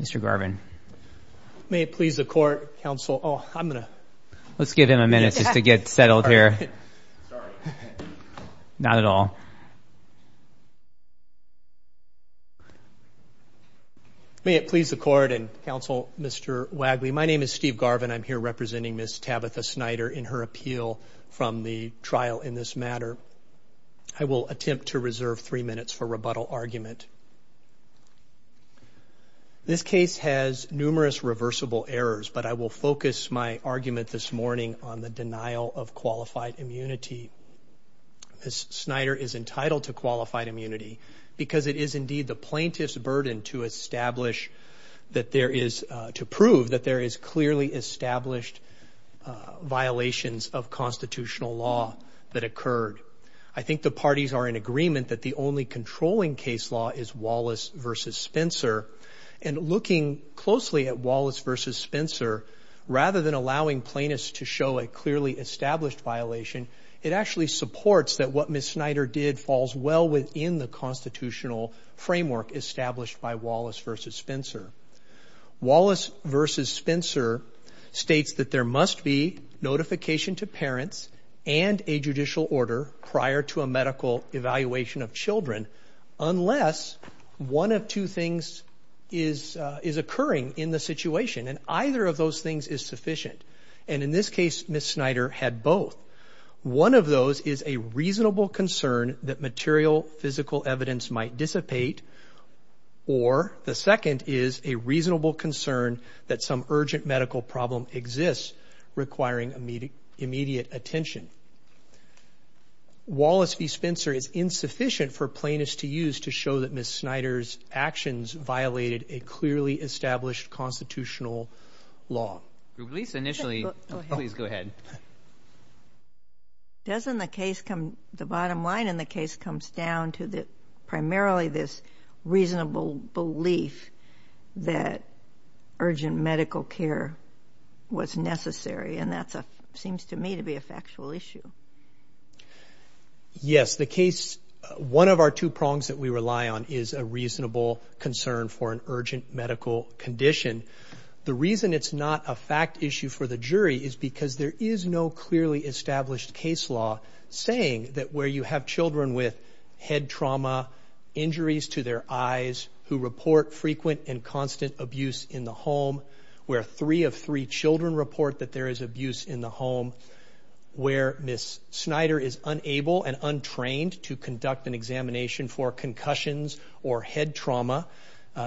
Mr. Garvin. May it please the court, counsel. Oh, I'm gonna. Let's give him a minute just to get settled here. Sorry. Not at all. May it please the court and counsel, Mr. Wagley. My name is Steve Garvin. I'm here representing Ms. Tabitha Snyder in her appeal from the trial in this matter. I will attempt to reserve three minutes for rebuttal argument. This case has numerous reversible errors, but I will focus my argument this morning on the denial of qualified immunity. Ms. Snyder is entitled to qualified immunity because it is indeed the plaintiff's burden to establish that there is, to prove that there is clearly established violations of constitutional law that occurred. I think the parties are in agreement that the only controlling case law is Wallace v. Spencer, and looking closely at Wallace v. Spencer, rather than allowing plaintiffs to show a clearly established violation, it actually supports that what Ms. Snyder did falls well within the constitutional framework established by Wallace v. Spencer. Wallace v. Spencer states that there must be notification to parents and a judicial order prior to a medical evaluation of children unless one of two things is occurring in the situation, and either of those things is sufficient, and in this case Ms. Snyder had both. One of those is a reasonable concern that material physical evidence might dissipate, or the second is a reasonable concern that some urgent medical problem exists requiring immediate attention. Wallace v. Spencer is insufficient for plaintiffs to use to show that Ms. Snyder's actions violated a clearly established constitutional law. Please go ahead. The bottom line in the case comes down to primarily this reasonable belief that urgent medical care was necessary, and that seems to me to be a factual issue. Yes, the case, one of our two prongs that we rely on is a reasonable concern for an urgent medical condition. The reason it's not a fact issue for the jury is because there is no clearly established case law saying that where you have children with head trauma, injuries to their eyes, who report frequent and constant abuse in the home, where three of three children report that there is abuse in the home, where Ms. Snyder is unable and untrained to conduct an examination for concussions or head trauma,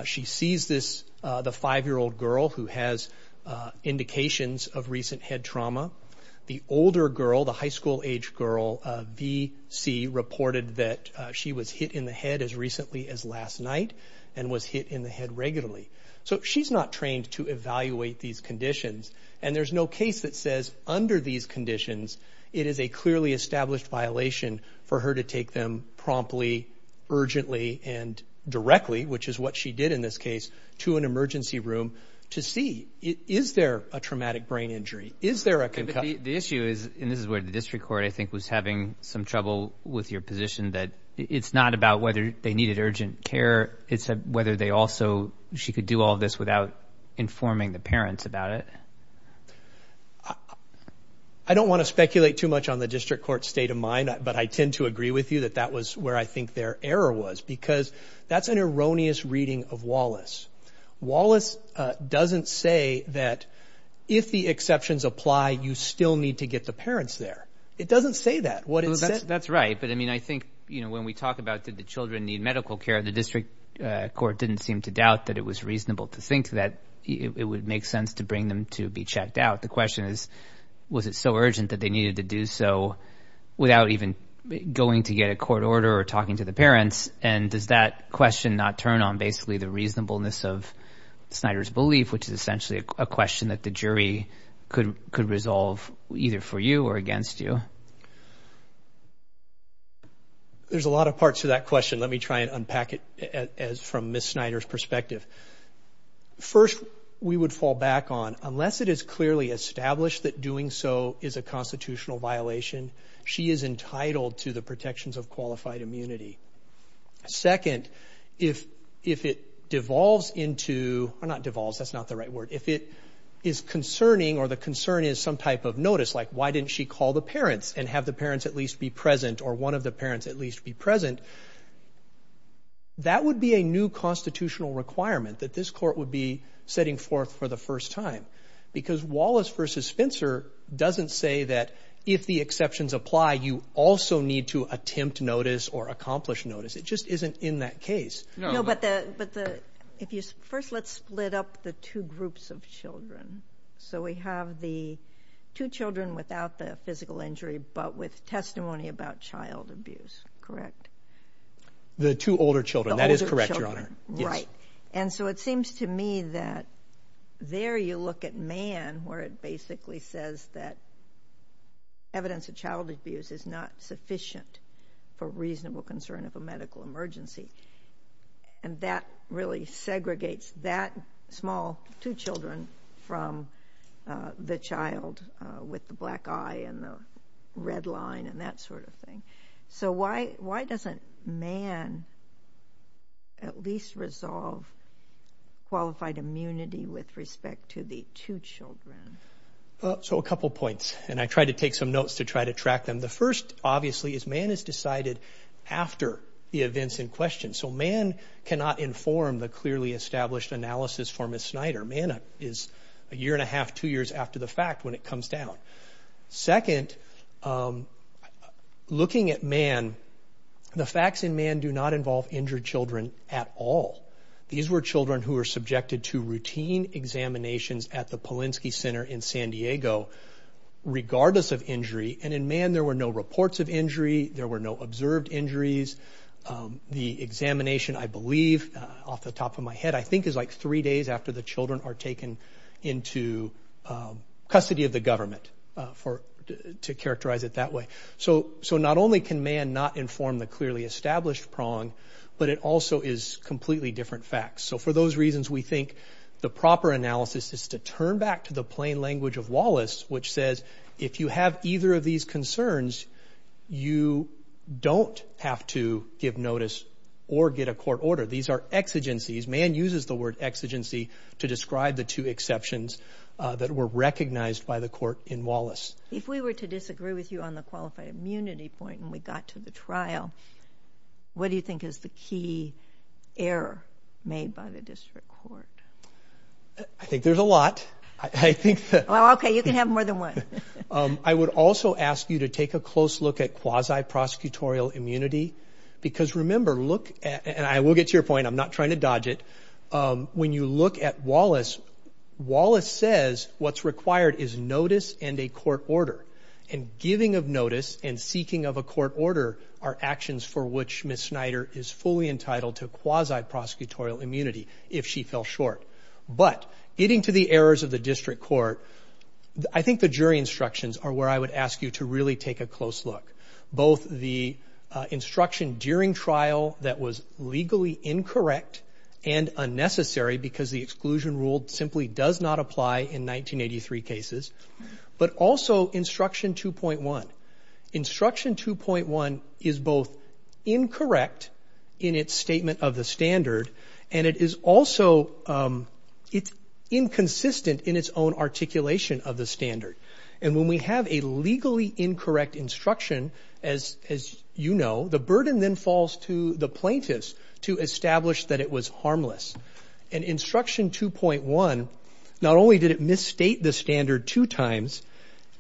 she sees the five-year-old girl who has indications of recent head trauma. The older girl, the high school-age girl, V.C., reported that she was hit in the head as recently as last night and was hit in the head regularly. So she's not trained to evaluate these conditions, and there's no case that says under these conditions it is a clearly established violation for her to take them promptly, urgently, and directly, which is what she did in this case, to an emergency room to see, is there a traumatic brain injury, is there a concussion? The issue is, and this is where the district court I think was having some trouble with your position, that it's not about whether they needed urgent care, it's whether they also, she could do all this without informing the parents about it. I don't want to speculate too much on the district court's state of mind, but I tend to agree with you that that was where I think their error was because that's an erroneous reading of Wallace. Wallace doesn't say that if the exceptions apply, you still need to get the parents there. It doesn't say that. That's right, but I mean I think when we talk about did the children need medical care, the district court didn't seem to doubt that it was reasonable to think that it would make sense to bring them to be checked out. The question is, was it so urgent that they needed to do so without even going to get a court order or talking to the parents, and does that question not turn on basically the reasonableness of Snyder's belief, which is essentially a question that the jury could resolve either for you or against you? There's a lot of parts to that question. Let me try and unpack it from Ms. Snyder's perspective. First, we would fall back on, unless it is clearly established that doing so is a constitutional violation, she is entitled to the protections of qualified immunity. Second, if it devolves into, or not devolves, that's not the right word, if it is concerning or the concern is some type of notice, like why didn't she call the parents and have the parents at least be present or one of the parents at least be present, that would be a new constitutional requirement that this court would be setting forth for the first time because Wallace v. Spencer doesn't say that if the exceptions apply, you also need to attempt notice or accomplish notice. It just isn't in that case. First, let's split up the two groups of children. We have the two children without the physical injury but with testimony about child abuse, correct? The two older children, that is correct, Your Honor. Right. It seems to me that there you look at Mann where it basically says that evidence of child abuse is not sufficient for reasonable concern of a medical emergency and that really segregates that small two children from the child with the black eye and the red line and that sort of thing. So why doesn't Mann at least resolve qualified immunity with respect to the two children? So a couple points, and I tried to take some notes to try to track them. The first, obviously, is Mann is decided after the events in question. So Mann cannot inform the clearly established analysis for Ms. Snyder. Mann is a year and a half, two years after the fact when it comes down. Second, looking at Mann, the facts in Mann do not involve injured children at all. These were children who were subjected to routine examinations at the Polinsky Center in San Diego regardless of injury, and in Mann there were no reports of injury. There were no observed injuries. The examination, I believe, off the top of my head, I think is like three days after the children are taken into custody of the government to characterize it that way. So not only can Mann not inform the clearly established prong, but it also is completely different facts. So for those reasons, we think the proper analysis is to turn back to the plain language of Wallace, which says if you have either of these concerns, you don't have to give notice or get a court order. These are exigencies. Mann uses the word exigency to describe the two exceptions that were recognized by the court in Wallace. If we were to disagree with you on the qualified immunity point when we got to the trial, what do you think is the key error made by the district court? I think there's a lot. Okay, you can have more than one. I would also ask you to take a close look at quasi-prosecutorial immunity because remember, and I will get to your point, I'm not trying to dodge it. When you look at Wallace, Wallace says what's required is notice and a court order, and giving of notice and seeking of a court order are actions for which Ms. Snyder is fully entitled to quasi-prosecutorial immunity if she fell short. But getting to the errors of the district court, I think the jury instructions are where I would ask you to really take a close look, both the instruction during trial that was legally incorrect and unnecessary because the exclusion rule simply does not apply in 1983 cases, but also instruction 2.1. Instruction 2.1 is both incorrect in its statement of the standard, and it is also inconsistent in its own articulation of the standard. And when we have a legally incorrect instruction, as you know, the burden then falls to the plaintiffs to establish that it was harmless. And instruction 2.1, not only did it misstate the standard two times,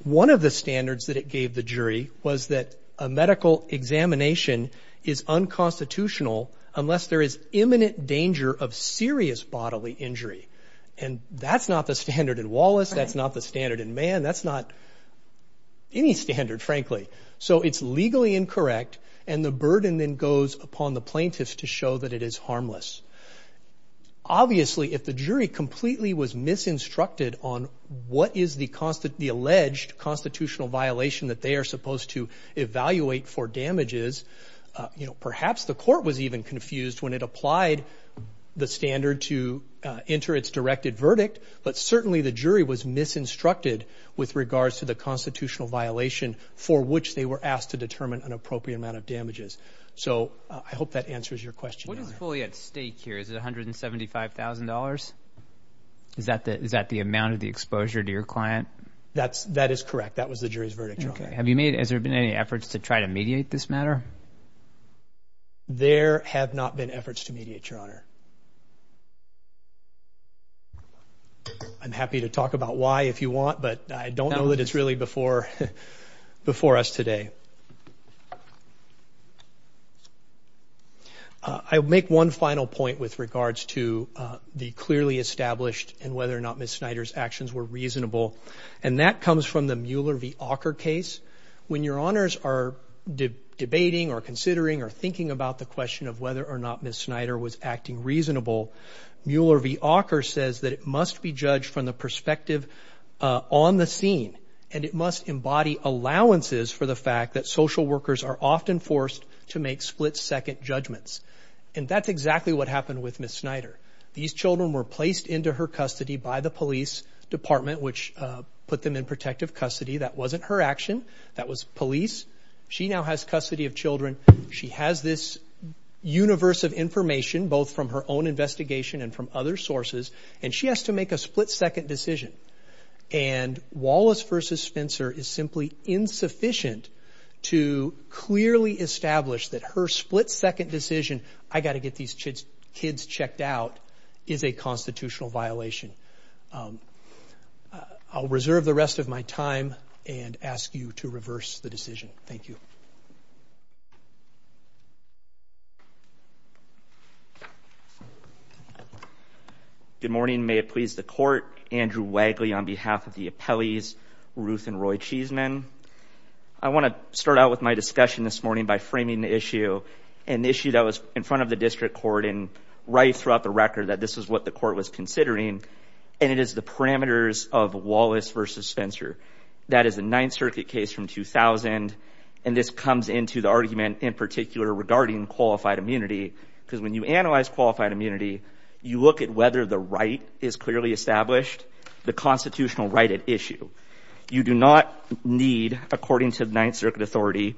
one of the standards that it gave the jury was that a medical examination is unconstitutional unless there is imminent danger of serious bodily injury. And that's not the standard in Wallace. That's not the standard in Mann. That's not any standard, frankly. So it's legally incorrect, and the burden then goes upon the plaintiffs to show that it is harmless. Obviously, if the jury completely was misinstructed on what is the alleged constitutional violation that they are supposed to evaluate for damages, perhaps the court was even confused when it applied the standard to enter its directed verdict, but certainly the jury was misinstructed with regards to the constitutional violation for which they were asked to determine an appropriate amount of damages. So I hope that answers your question. What is fully at stake here? Is it $175,000? Is that the amount of the exposure to your client? That is correct. That was the jury's verdict. Okay. Has there been any efforts to try to mediate this matter? There have not been efforts to mediate, Your Honor. I'm happy to talk about why if you want, but I don't know that it's really before us today. I'll make one final point with regards to the clearly established and whether or not Ms. Snyder's actions were reasonable, and that comes from the Mueller v. Auker case. When Your Honors are debating or considering or thinking about the question of whether or not Ms. Snyder was acting reasonable, Mueller v. Auker says that it must be judged from the perspective on the scene, and it must embody allowances for the fact that social workers are often forced to make split-second judgments. And that's exactly what happened with Ms. Snyder. These children were placed into her custody by the police department, which put them in protective custody. That wasn't her action. That was police. She now has custody of children. She has this universe of information, both from her own investigation and from other sources, and she has to make a split-second decision. And Wallace v. Spencer is simply insufficient to clearly establish that her split-second decision, I've got to get these kids checked out, is a constitutional violation. I'll reserve the rest of my time and ask you to reverse the decision. Thank you. Good morning. May it please the Court. Andrew Wagley on behalf of the appellees, Ruth and Roy Cheeseman. I want to start out with my discussion this morning by framing the issue, an issue that was in front of the district court and right throughout the record that this is what the court was considering, and it is the parameters of Wallace v. Spencer. That is a Ninth Circuit case from 2000, and this comes into the argument in particular regarding qualified immunity, because when you analyze qualified immunity, you look at whether the right is clearly established, the constitutional right at issue. You do not need, according to the Ninth Circuit authority,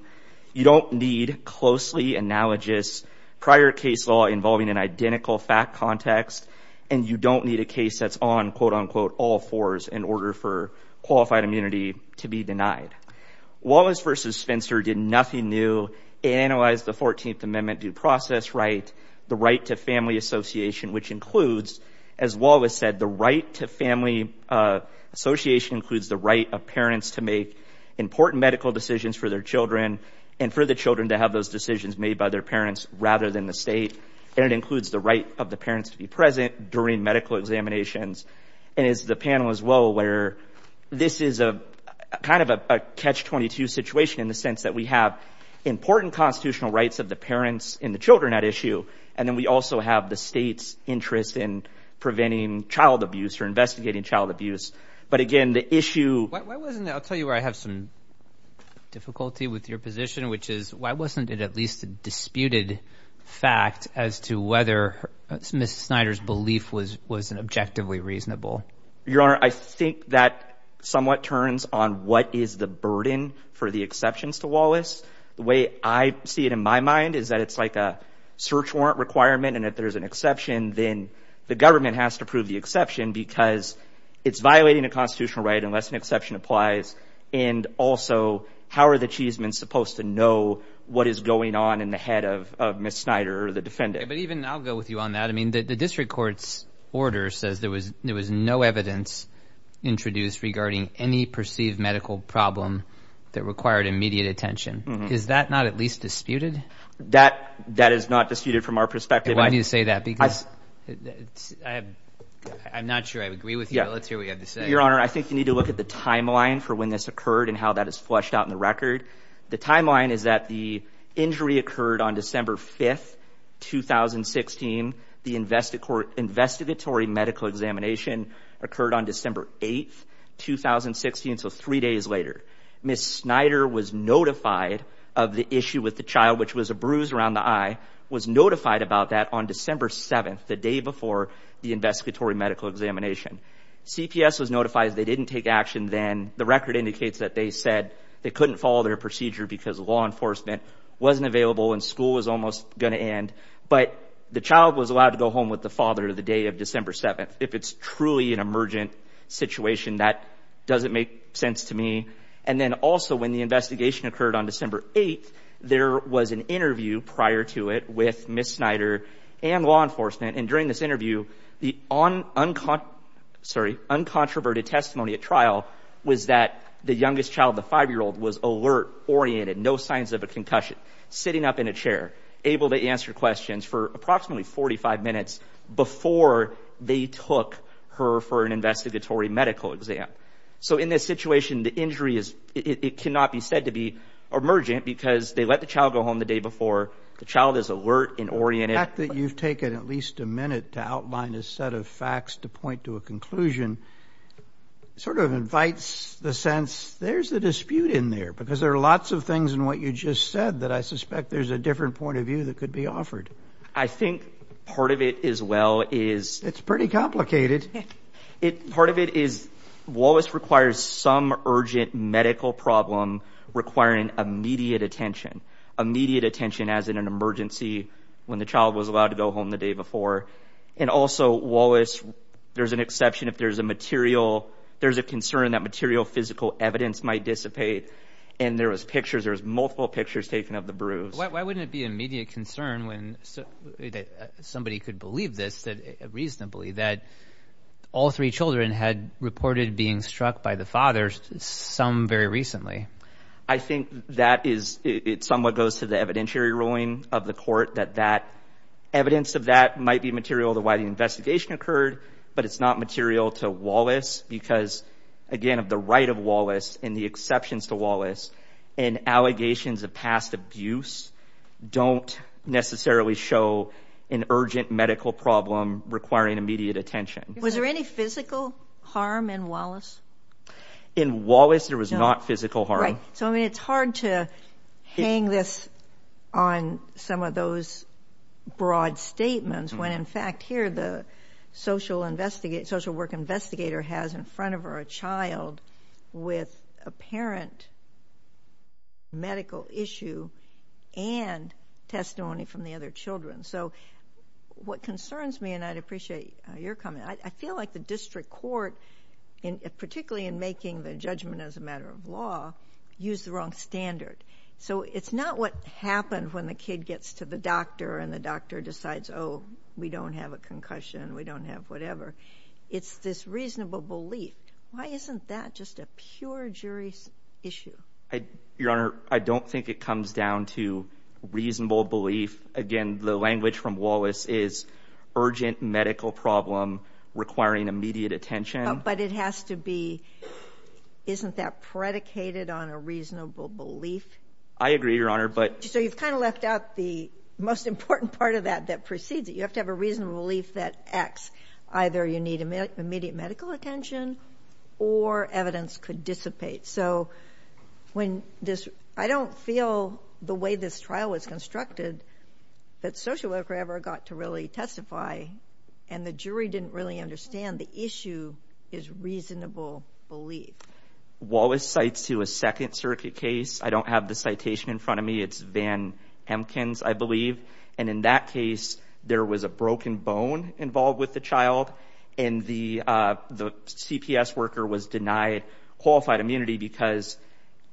you don't need closely analogous prior case law involving an identical fact context, and you don't need a case that's on, quote, unquote, all fours in order for qualified immunity to be denied. Wallace v. Spencer did nothing new. It analyzed the 14th Amendment due process right, the right to family association, which includes, as Wallace said, the right to family association includes the right of parents to make important medical decisions for their children and for the children to have those decisions made by their parents rather than the state, and it includes the right of the parents to be present during medical examinations. And as the panel is well aware, this is kind of a catch-22 situation in the sense that we have important constitutional rights of the parents and the children at issue, and then we also have the state's interest in preventing child abuse or investigating child abuse. But again, the issue— I'll tell you where I have some difficulty with your position, which is why wasn't it at least a disputed fact as to whether Ms. Snyder's belief was objectively reasonable? Your Honor, I think that somewhat turns on what is the burden for the exceptions to Wallace. The way I see it in my mind is that it's like a search warrant requirement, and if there's an exception, then the government has to prove the exception because it's violating a constitutional right unless an exception applies, and also how are the chiefsmen supposed to know what is going on in the head of Ms. Snyder or the defendant? But even—I'll go with you on that. I mean, the district court's order says there was no evidence introduced regarding any perceived medical problem that required immediate attention. Is that not at least disputed? That is not disputed from our perspective. I'm not sure I agree with you, but let's hear what you have to say. Your Honor, I think you need to look at the timeline for when this occurred and how that is fleshed out in the record. The timeline is that the injury occurred on December 5, 2016. The investigatory medical examination occurred on December 8, 2016, so three days later. Ms. Snyder was notified of the issue with the child, which was a bruise around the eye, was notified about that on December 7, the day before the investigatory medical examination. CPS was notified they didn't take action then. The record indicates that they said they couldn't follow their procedure because law enforcement wasn't available and school was almost going to end, but the child was allowed to go home with the father the day of December 7. If it's truly an emergent situation, that doesn't make sense to me. And then also when the investigation occurred on December 8, there was an interview prior to it with Ms. Snyder and law enforcement, and during this interview the uncontroverted testimony at trial was that the youngest child, the 5-year-old, was alert, oriented, no signs of a concussion, sitting up in a chair, able to answer questions for approximately 45 minutes before they took her for an investigatory medical exam. So in this situation, the injury cannot be said to be emergent because they let the child go home the day before, the child is alert and oriented. The fact that you've taken at least a minute to outline a set of facts to point to a conclusion sort of invites the sense there's a dispute in there because there are lots of things in what you just said that I suspect there's a different point of view that could be offered. I think part of it as well is... It's pretty complicated. Part of it is Wallace requires some urgent medical problem requiring immediate attention, immediate attention as in an emergency when the child was allowed to go home the day before. And also, Wallace, there's an exception if there's a material, there's a concern that material physical evidence might dissipate, and there was pictures, there was multiple pictures taken of the bruise. Why wouldn't it be an immediate concern when somebody could believe this reasonably that all three children had reported being struck by the father, some very recently? I think that is, it somewhat goes to the evidentiary ruling of the court that that evidence of that might be material to why the investigation occurred, but it's not material to Wallace because, again, of the right of Wallace and the exceptions to Wallace and allegations of past abuse don't necessarily show an urgent medical problem requiring immediate attention. Was there any physical harm in Wallace? In Wallace, there was not physical harm. So, I mean, it's hard to hang this on some of those broad statements when, in fact, here the social work investigator has in front of her a child with apparent medical issue and testimony from the other children. So what concerns me, and I'd appreciate your comment, I feel like the district court, particularly in making the judgment as a matter of law, used the wrong standard. So it's not what happened when the kid gets to the doctor and the doctor decides, oh, we don't have a concussion, we don't have whatever. It's this reasonable belief. Why isn't that just a pure jury issue? Your Honor, I don't think it comes down to reasonable belief. Again, the language from Wallace is urgent medical problem requiring immediate attention. But it has to be, isn't that predicated on a reasonable belief? I agree, Your Honor. So you've kind of left out the most important part of that that precedes it. You have to have a reasonable belief that X, either you need immediate medical attention or evidence could dissipate. So I don't feel the way this trial was constructed that social worker ever got to really testify and the jury didn't really understand the issue is reasonable belief. Wallace cites to a Second Circuit case. I don't have the citation in front of me. It's Van Hemkins, I believe. And in that case, there was a broken bone involved with the child and the CPS worker was denied qualified immunity because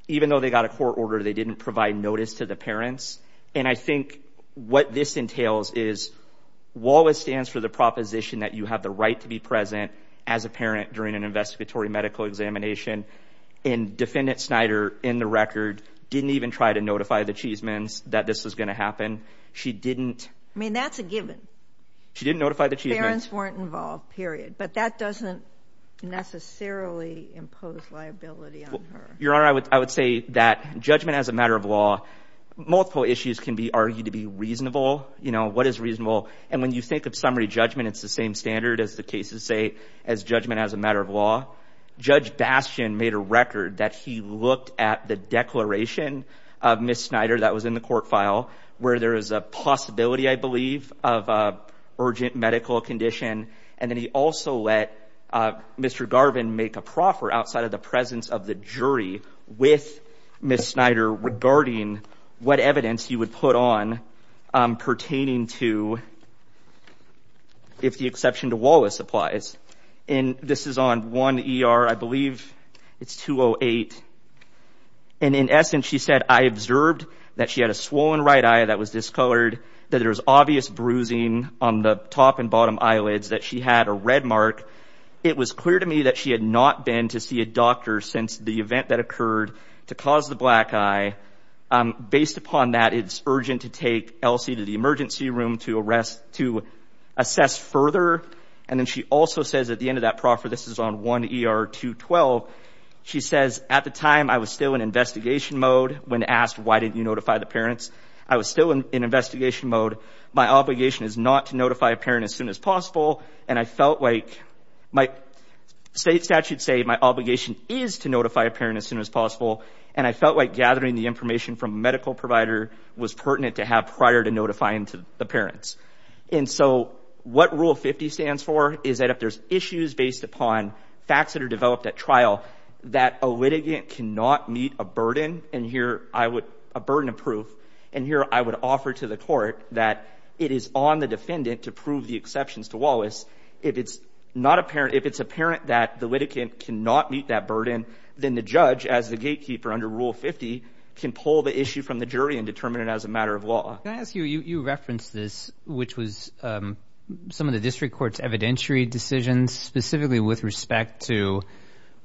even though they got a court order, they didn't provide notice to the parents. And I think what this entails is Wallace stands for the proposition that you have the right to be present as a parent during an investigatory medical examination. And Defendant Snyder, in the record, didn't even try to notify the Cheesemans that this was going to happen. She didn't. I mean, that's a given. She didn't notify the Cheesemans. Parents weren't involved, period. But that doesn't necessarily impose liability on her. Your Honor, I would say that judgment as a matter of law, multiple issues can be argued to be reasonable. You know, what is reasonable? And when you think of summary judgment, it's the same standard as the cases say as judgment as a matter of law. Judge Bastian made a record that he looked at the declaration of Ms. Snyder that was in the court file where there is a possibility, I believe, of an urgent medical condition. And then he also let Mr. Garvin make a proffer outside of the presence of the jury with Ms. Snyder regarding what evidence he would put on pertaining to, if the exception to Wallace applies. And this is on 1 ER, I believe. It's 208. And in essence, she said, I observed that she had a swollen right eye that was discolored, that there was obvious bruising on the top and bottom eyelids, that she had a red mark. It was clear to me that she had not been to see a doctor since the event that occurred to cause the black eye. Based upon that, it's urgent to take Elsie to the emergency room to assess further. And then she also says at the end of that proffer, this is on 1 ER 212, she says, at the time, I was still in investigation mode when asked why didn't you notify the parents. I was still in investigation mode. My obligation is not to notify a parent as soon as possible. And I felt like my state statute say my obligation is to notify a parent as soon as possible. And I felt like gathering the information from a medical provider was pertinent to have prior to notifying the parents. And so what Rule 50 stands for is that if there's issues based upon facts that are developed at trial that a litigant cannot meet a burden of proof, and here I would offer to the court that it is on the defendant to prove the exceptions to Wallace. If it's apparent that the litigant cannot meet that burden, then the judge, as the gatekeeper under Rule 50, can pull the issue from the jury and determine it as a matter of law. Can I ask you, you referenced this, which was some of the district court's evidentiary decisions, specifically with respect to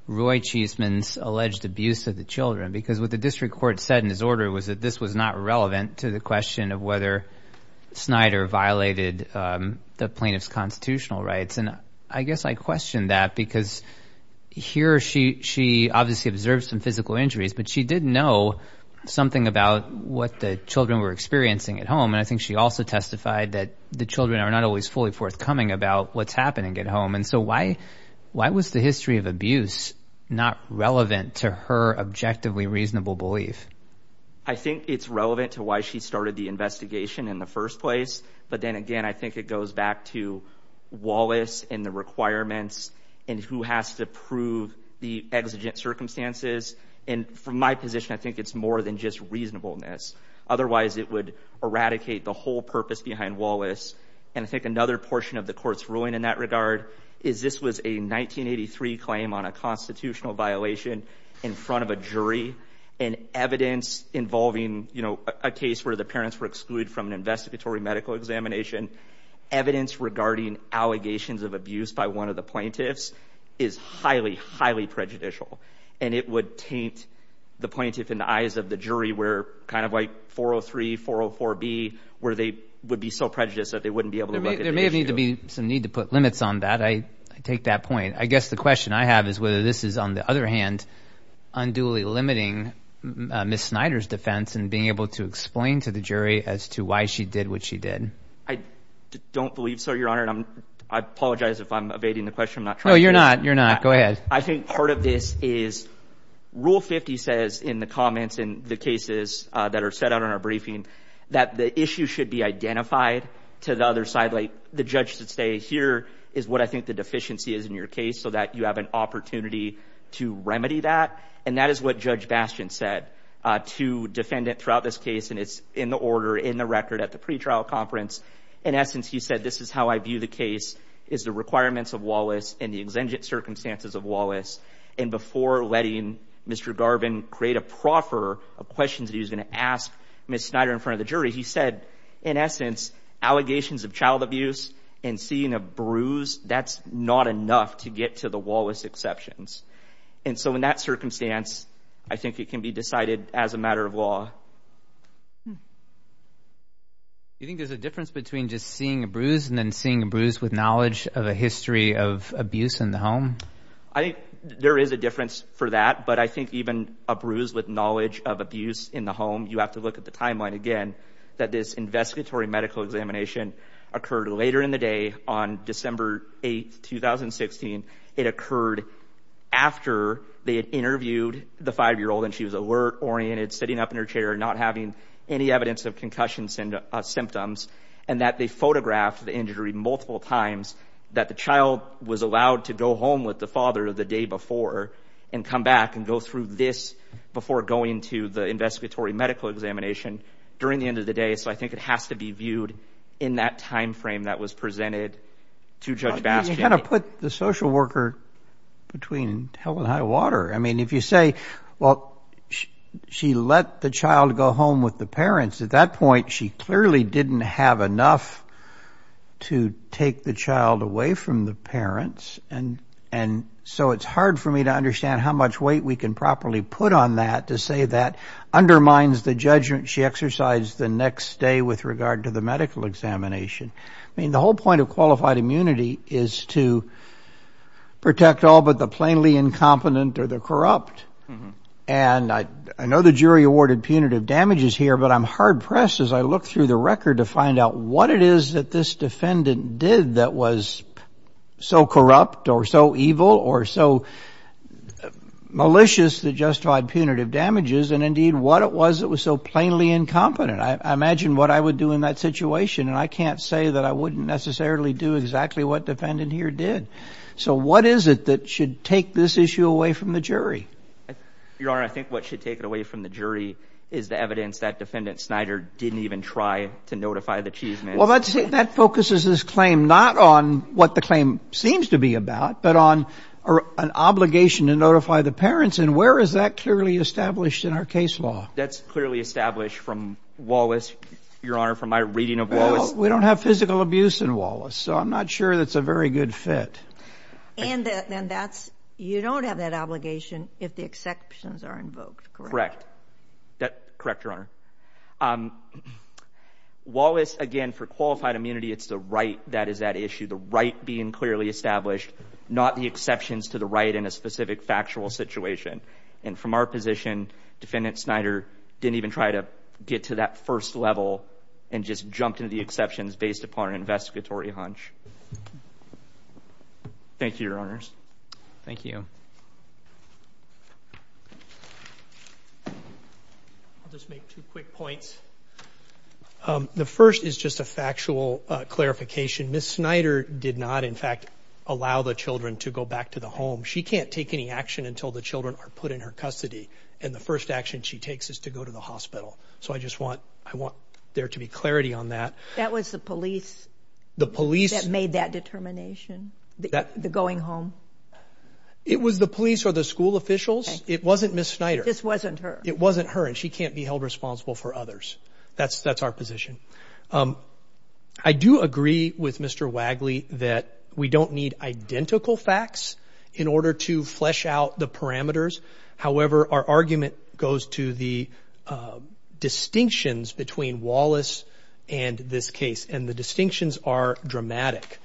Roy Cheeseman's alleged abuse of the children, because what the district court said in his order was that this was not relevant to the question of whether Snyder violated the plaintiff's constitutional rights. And I guess I question that because here she obviously observed some physical injuries, but she did know something about what the children were experiencing at home, and I think she also testified that the children are not always fully forthcoming about what's happening at home. And so why was the history of abuse not relevant to her objectively reasonable belief? I think it's relevant to why she started the investigation in the first place, but then again I think it goes back to Wallace and the requirements and who has to prove the exigent circumstances. And from my position I think it's more than just reasonableness. Otherwise it would eradicate the whole purpose behind Wallace. And I think another portion of the court's ruling in that regard is this was a 1983 claim on a constitutional violation in front of a jury, and evidence involving a case where the parents were excluded from an investigatory medical examination, evidence regarding allegations of abuse by one of the plaintiffs is highly, highly prejudicial. And it would taint the plaintiff in the eyes of the jury where kind of like 403, 404B, where they would be so prejudiced that they wouldn't be able to look at the issue. There may need to be some need to put limits on that. I take that point. I guess the question I have is whether this is, on the other hand, unduly limiting Ms. Snyder's defense and being able to explain to the jury as to why she did what she did. I don't believe so, Your Honor, and I apologize if I'm evading the question. No, you're not. You're not. Go ahead. I think part of this is Rule 50 says in the comments in the cases that are set out in our briefing that the issue should be identified to the other side, like the judge should say here is what I think the deficiency is in your case so that you have an opportunity to remedy that. And that is what Judge Bastian said to defendant throughout this case, and it's in the order, in the record at the pretrial conference. In essence, he said this is how I view the case is the requirements of Wallace and the exigent circumstances of Wallace. And before letting Mr. Garvin create a proffer of questions that he was going to ask Ms. Snyder in front of the jury, he said, in essence, allegations of child abuse and seeing a bruise, that's not enough to get to the Wallace exceptions. And so in that circumstance, I think it can be decided as a matter of law. Do you think there's a difference between just seeing a bruise and then seeing a bruise with knowledge of a history of abuse in the home? I think there is a difference for that, but I think even a bruise with knowledge of abuse in the home, you have to look at the timeline again that this investigatory medical examination occurred later in the day on December 8, 2016. It occurred after they had interviewed the 5-year-old, and she was alert, oriented, sitting up in her chair, not having any evidence of concussions and symptoms, and that they photographed the injury multiple times, that the child was allowed to go home with the father the day before and come back and go through this before going to the investigatory medical examination during the end of the day. So I think it has to be viewed in that time frame that was presented to Judge Bastian. You kind of put the social worker between hell and high water. I mean, if you say, well, she let the child go home with the parents, at that point she clearly didn't have enough to take the child away from the parents, and so it's hard for me to understand how much weight we can properly put on that to say that undermines the judgment she exercised the next day with regard to the medical examination. I mean, the whole point of qualified immunity is to protect all but the plainly incompetent or the corrupt. And I know the jury awarded punitive damages here, but I'm hard pressed as I look through the record to find out what it is that this defendant did that was so corrupt or so evil or so malicious that justified punitive damages and, indeed, what it was that was so plainly incompetent. I imagine what I would do in that situation, and I can't say that I wouldn't necessarily do exactly what the defendant here did. So what is it that should take this issue away from the jury? Your Honor, I think what should take it away from the jury is the evidence that Defendant Snyder didn't even try to notify the chief. Well, that focuses this claim not on what the claim seems to be about, but on an obligation to notify the parents, and where is that clearly established in our case law? That's clearly established from Wallace, Your Honor, from my reading of Wallace. We don't have physical abuse in Wallace, so I'm not sure that's a very good fit. And you don't have that obligation if the exceptions are invoked, correct? Correct. Correct, Your Honor. Wallace, again, for qualified immunity, it's the right that is at issue, the right being clearly established, not the exceptions to the right in a specific factual situation. And from our position, Defendant Snyder didn't even try to get to that first level and just jumped into the exceptions based upon an investigatory hunch. Thank you, Your Honors. Thank you. I'll just make two quick points. The first is just a factual clarification. Ms. Snyder did not, in fact, allow the children to go back to the home. She can't take any action until the children are put in her custody, and the first action she takes is to go to the hospital. So I just want there to be clarity on that. That was the police that made that determination, the going home? It was the police or the school officials. It wasn't Ms. Snyder. It just wasn't her. It wasn't her, and she can't be held responsible for others. That's our position. I do agree with Mr. Wagley that we don't need identical facts in order to flesh out the parameters. However, our argument goes to the distinctions between Wallace and this case, and the distinctions are dramatic.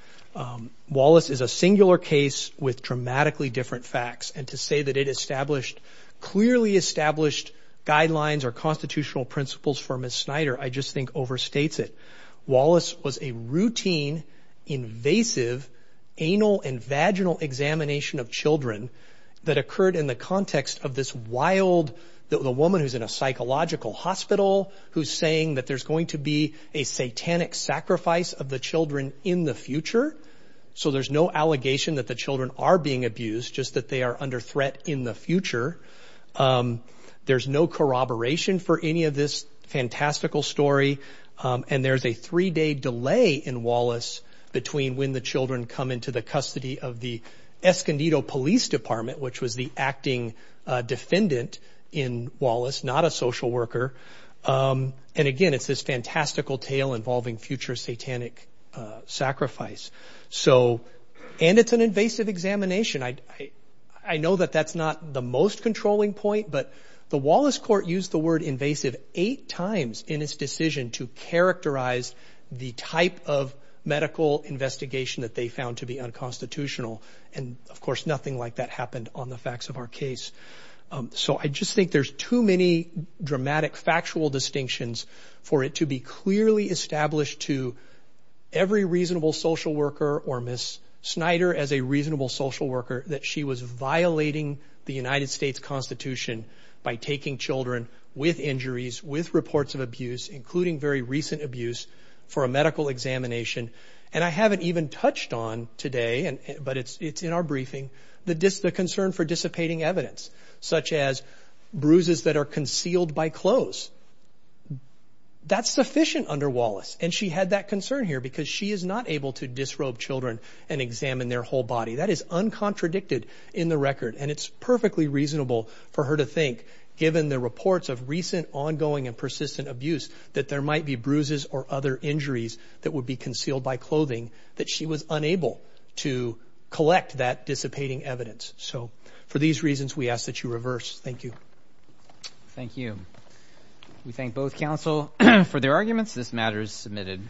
Wallace is a singular case with dramatically different facts, and to say that it established clearly established guidelines or constitutional principles for Ms. Snyder I just think overstates it. Wallace was a routine, invasive, anal and vaginal examination of children that occurred in the context of this wild woman who's in a psychological hospital who's saying that there's going to be a satanic sacrifice of the children in the future, so there's no allegation that the children are being abused, just that they are under threat in the future. There's no corroboration for any of this fantastical story, and there's a three-day delay in Wallace between when the children come into the custody of the Escondido Police Department, which was the acting defendant in Wallace, not a social worker. And again, it's this fantastical tale involving future satanic sacrifice. And it's an invasive examination. I know that that's not the most controlling point, but the Wallace court used the word invasive eight times in its decision to characterize the type of medical investigation that they found to be unconstitutional, and of course nothing like that happened on the facts of our case. So I just think there's too many dramatic factual distinctions for it to be clearly established to every reasonable social worker or Ms. Snyder as a reasonable social worker that she was violating the United States Constitution by taking children with injuries, with reports of abuse, including very recent abuse, for a medical examination. And I haven't even touched on today, but it's in our briefing, the concern for dissipating evidence, such as bruises that are concealed by clothes. That's sufficient under Wallace, and she had that concern here because she is not able to disrobe children and examine their whole body. That is uncontradicted in the record, and it's perfectly reasonable for her to think, given the reports of recent ongoing and persistent abuse, that there might be bruises or other injuries that would be concealed by clothing, that she was unable to collect that dissipating evidence. So for these reasons, we ask that you reverse. Thank you. Thank you. We thank both counsel for their arguments. This matter is submitted.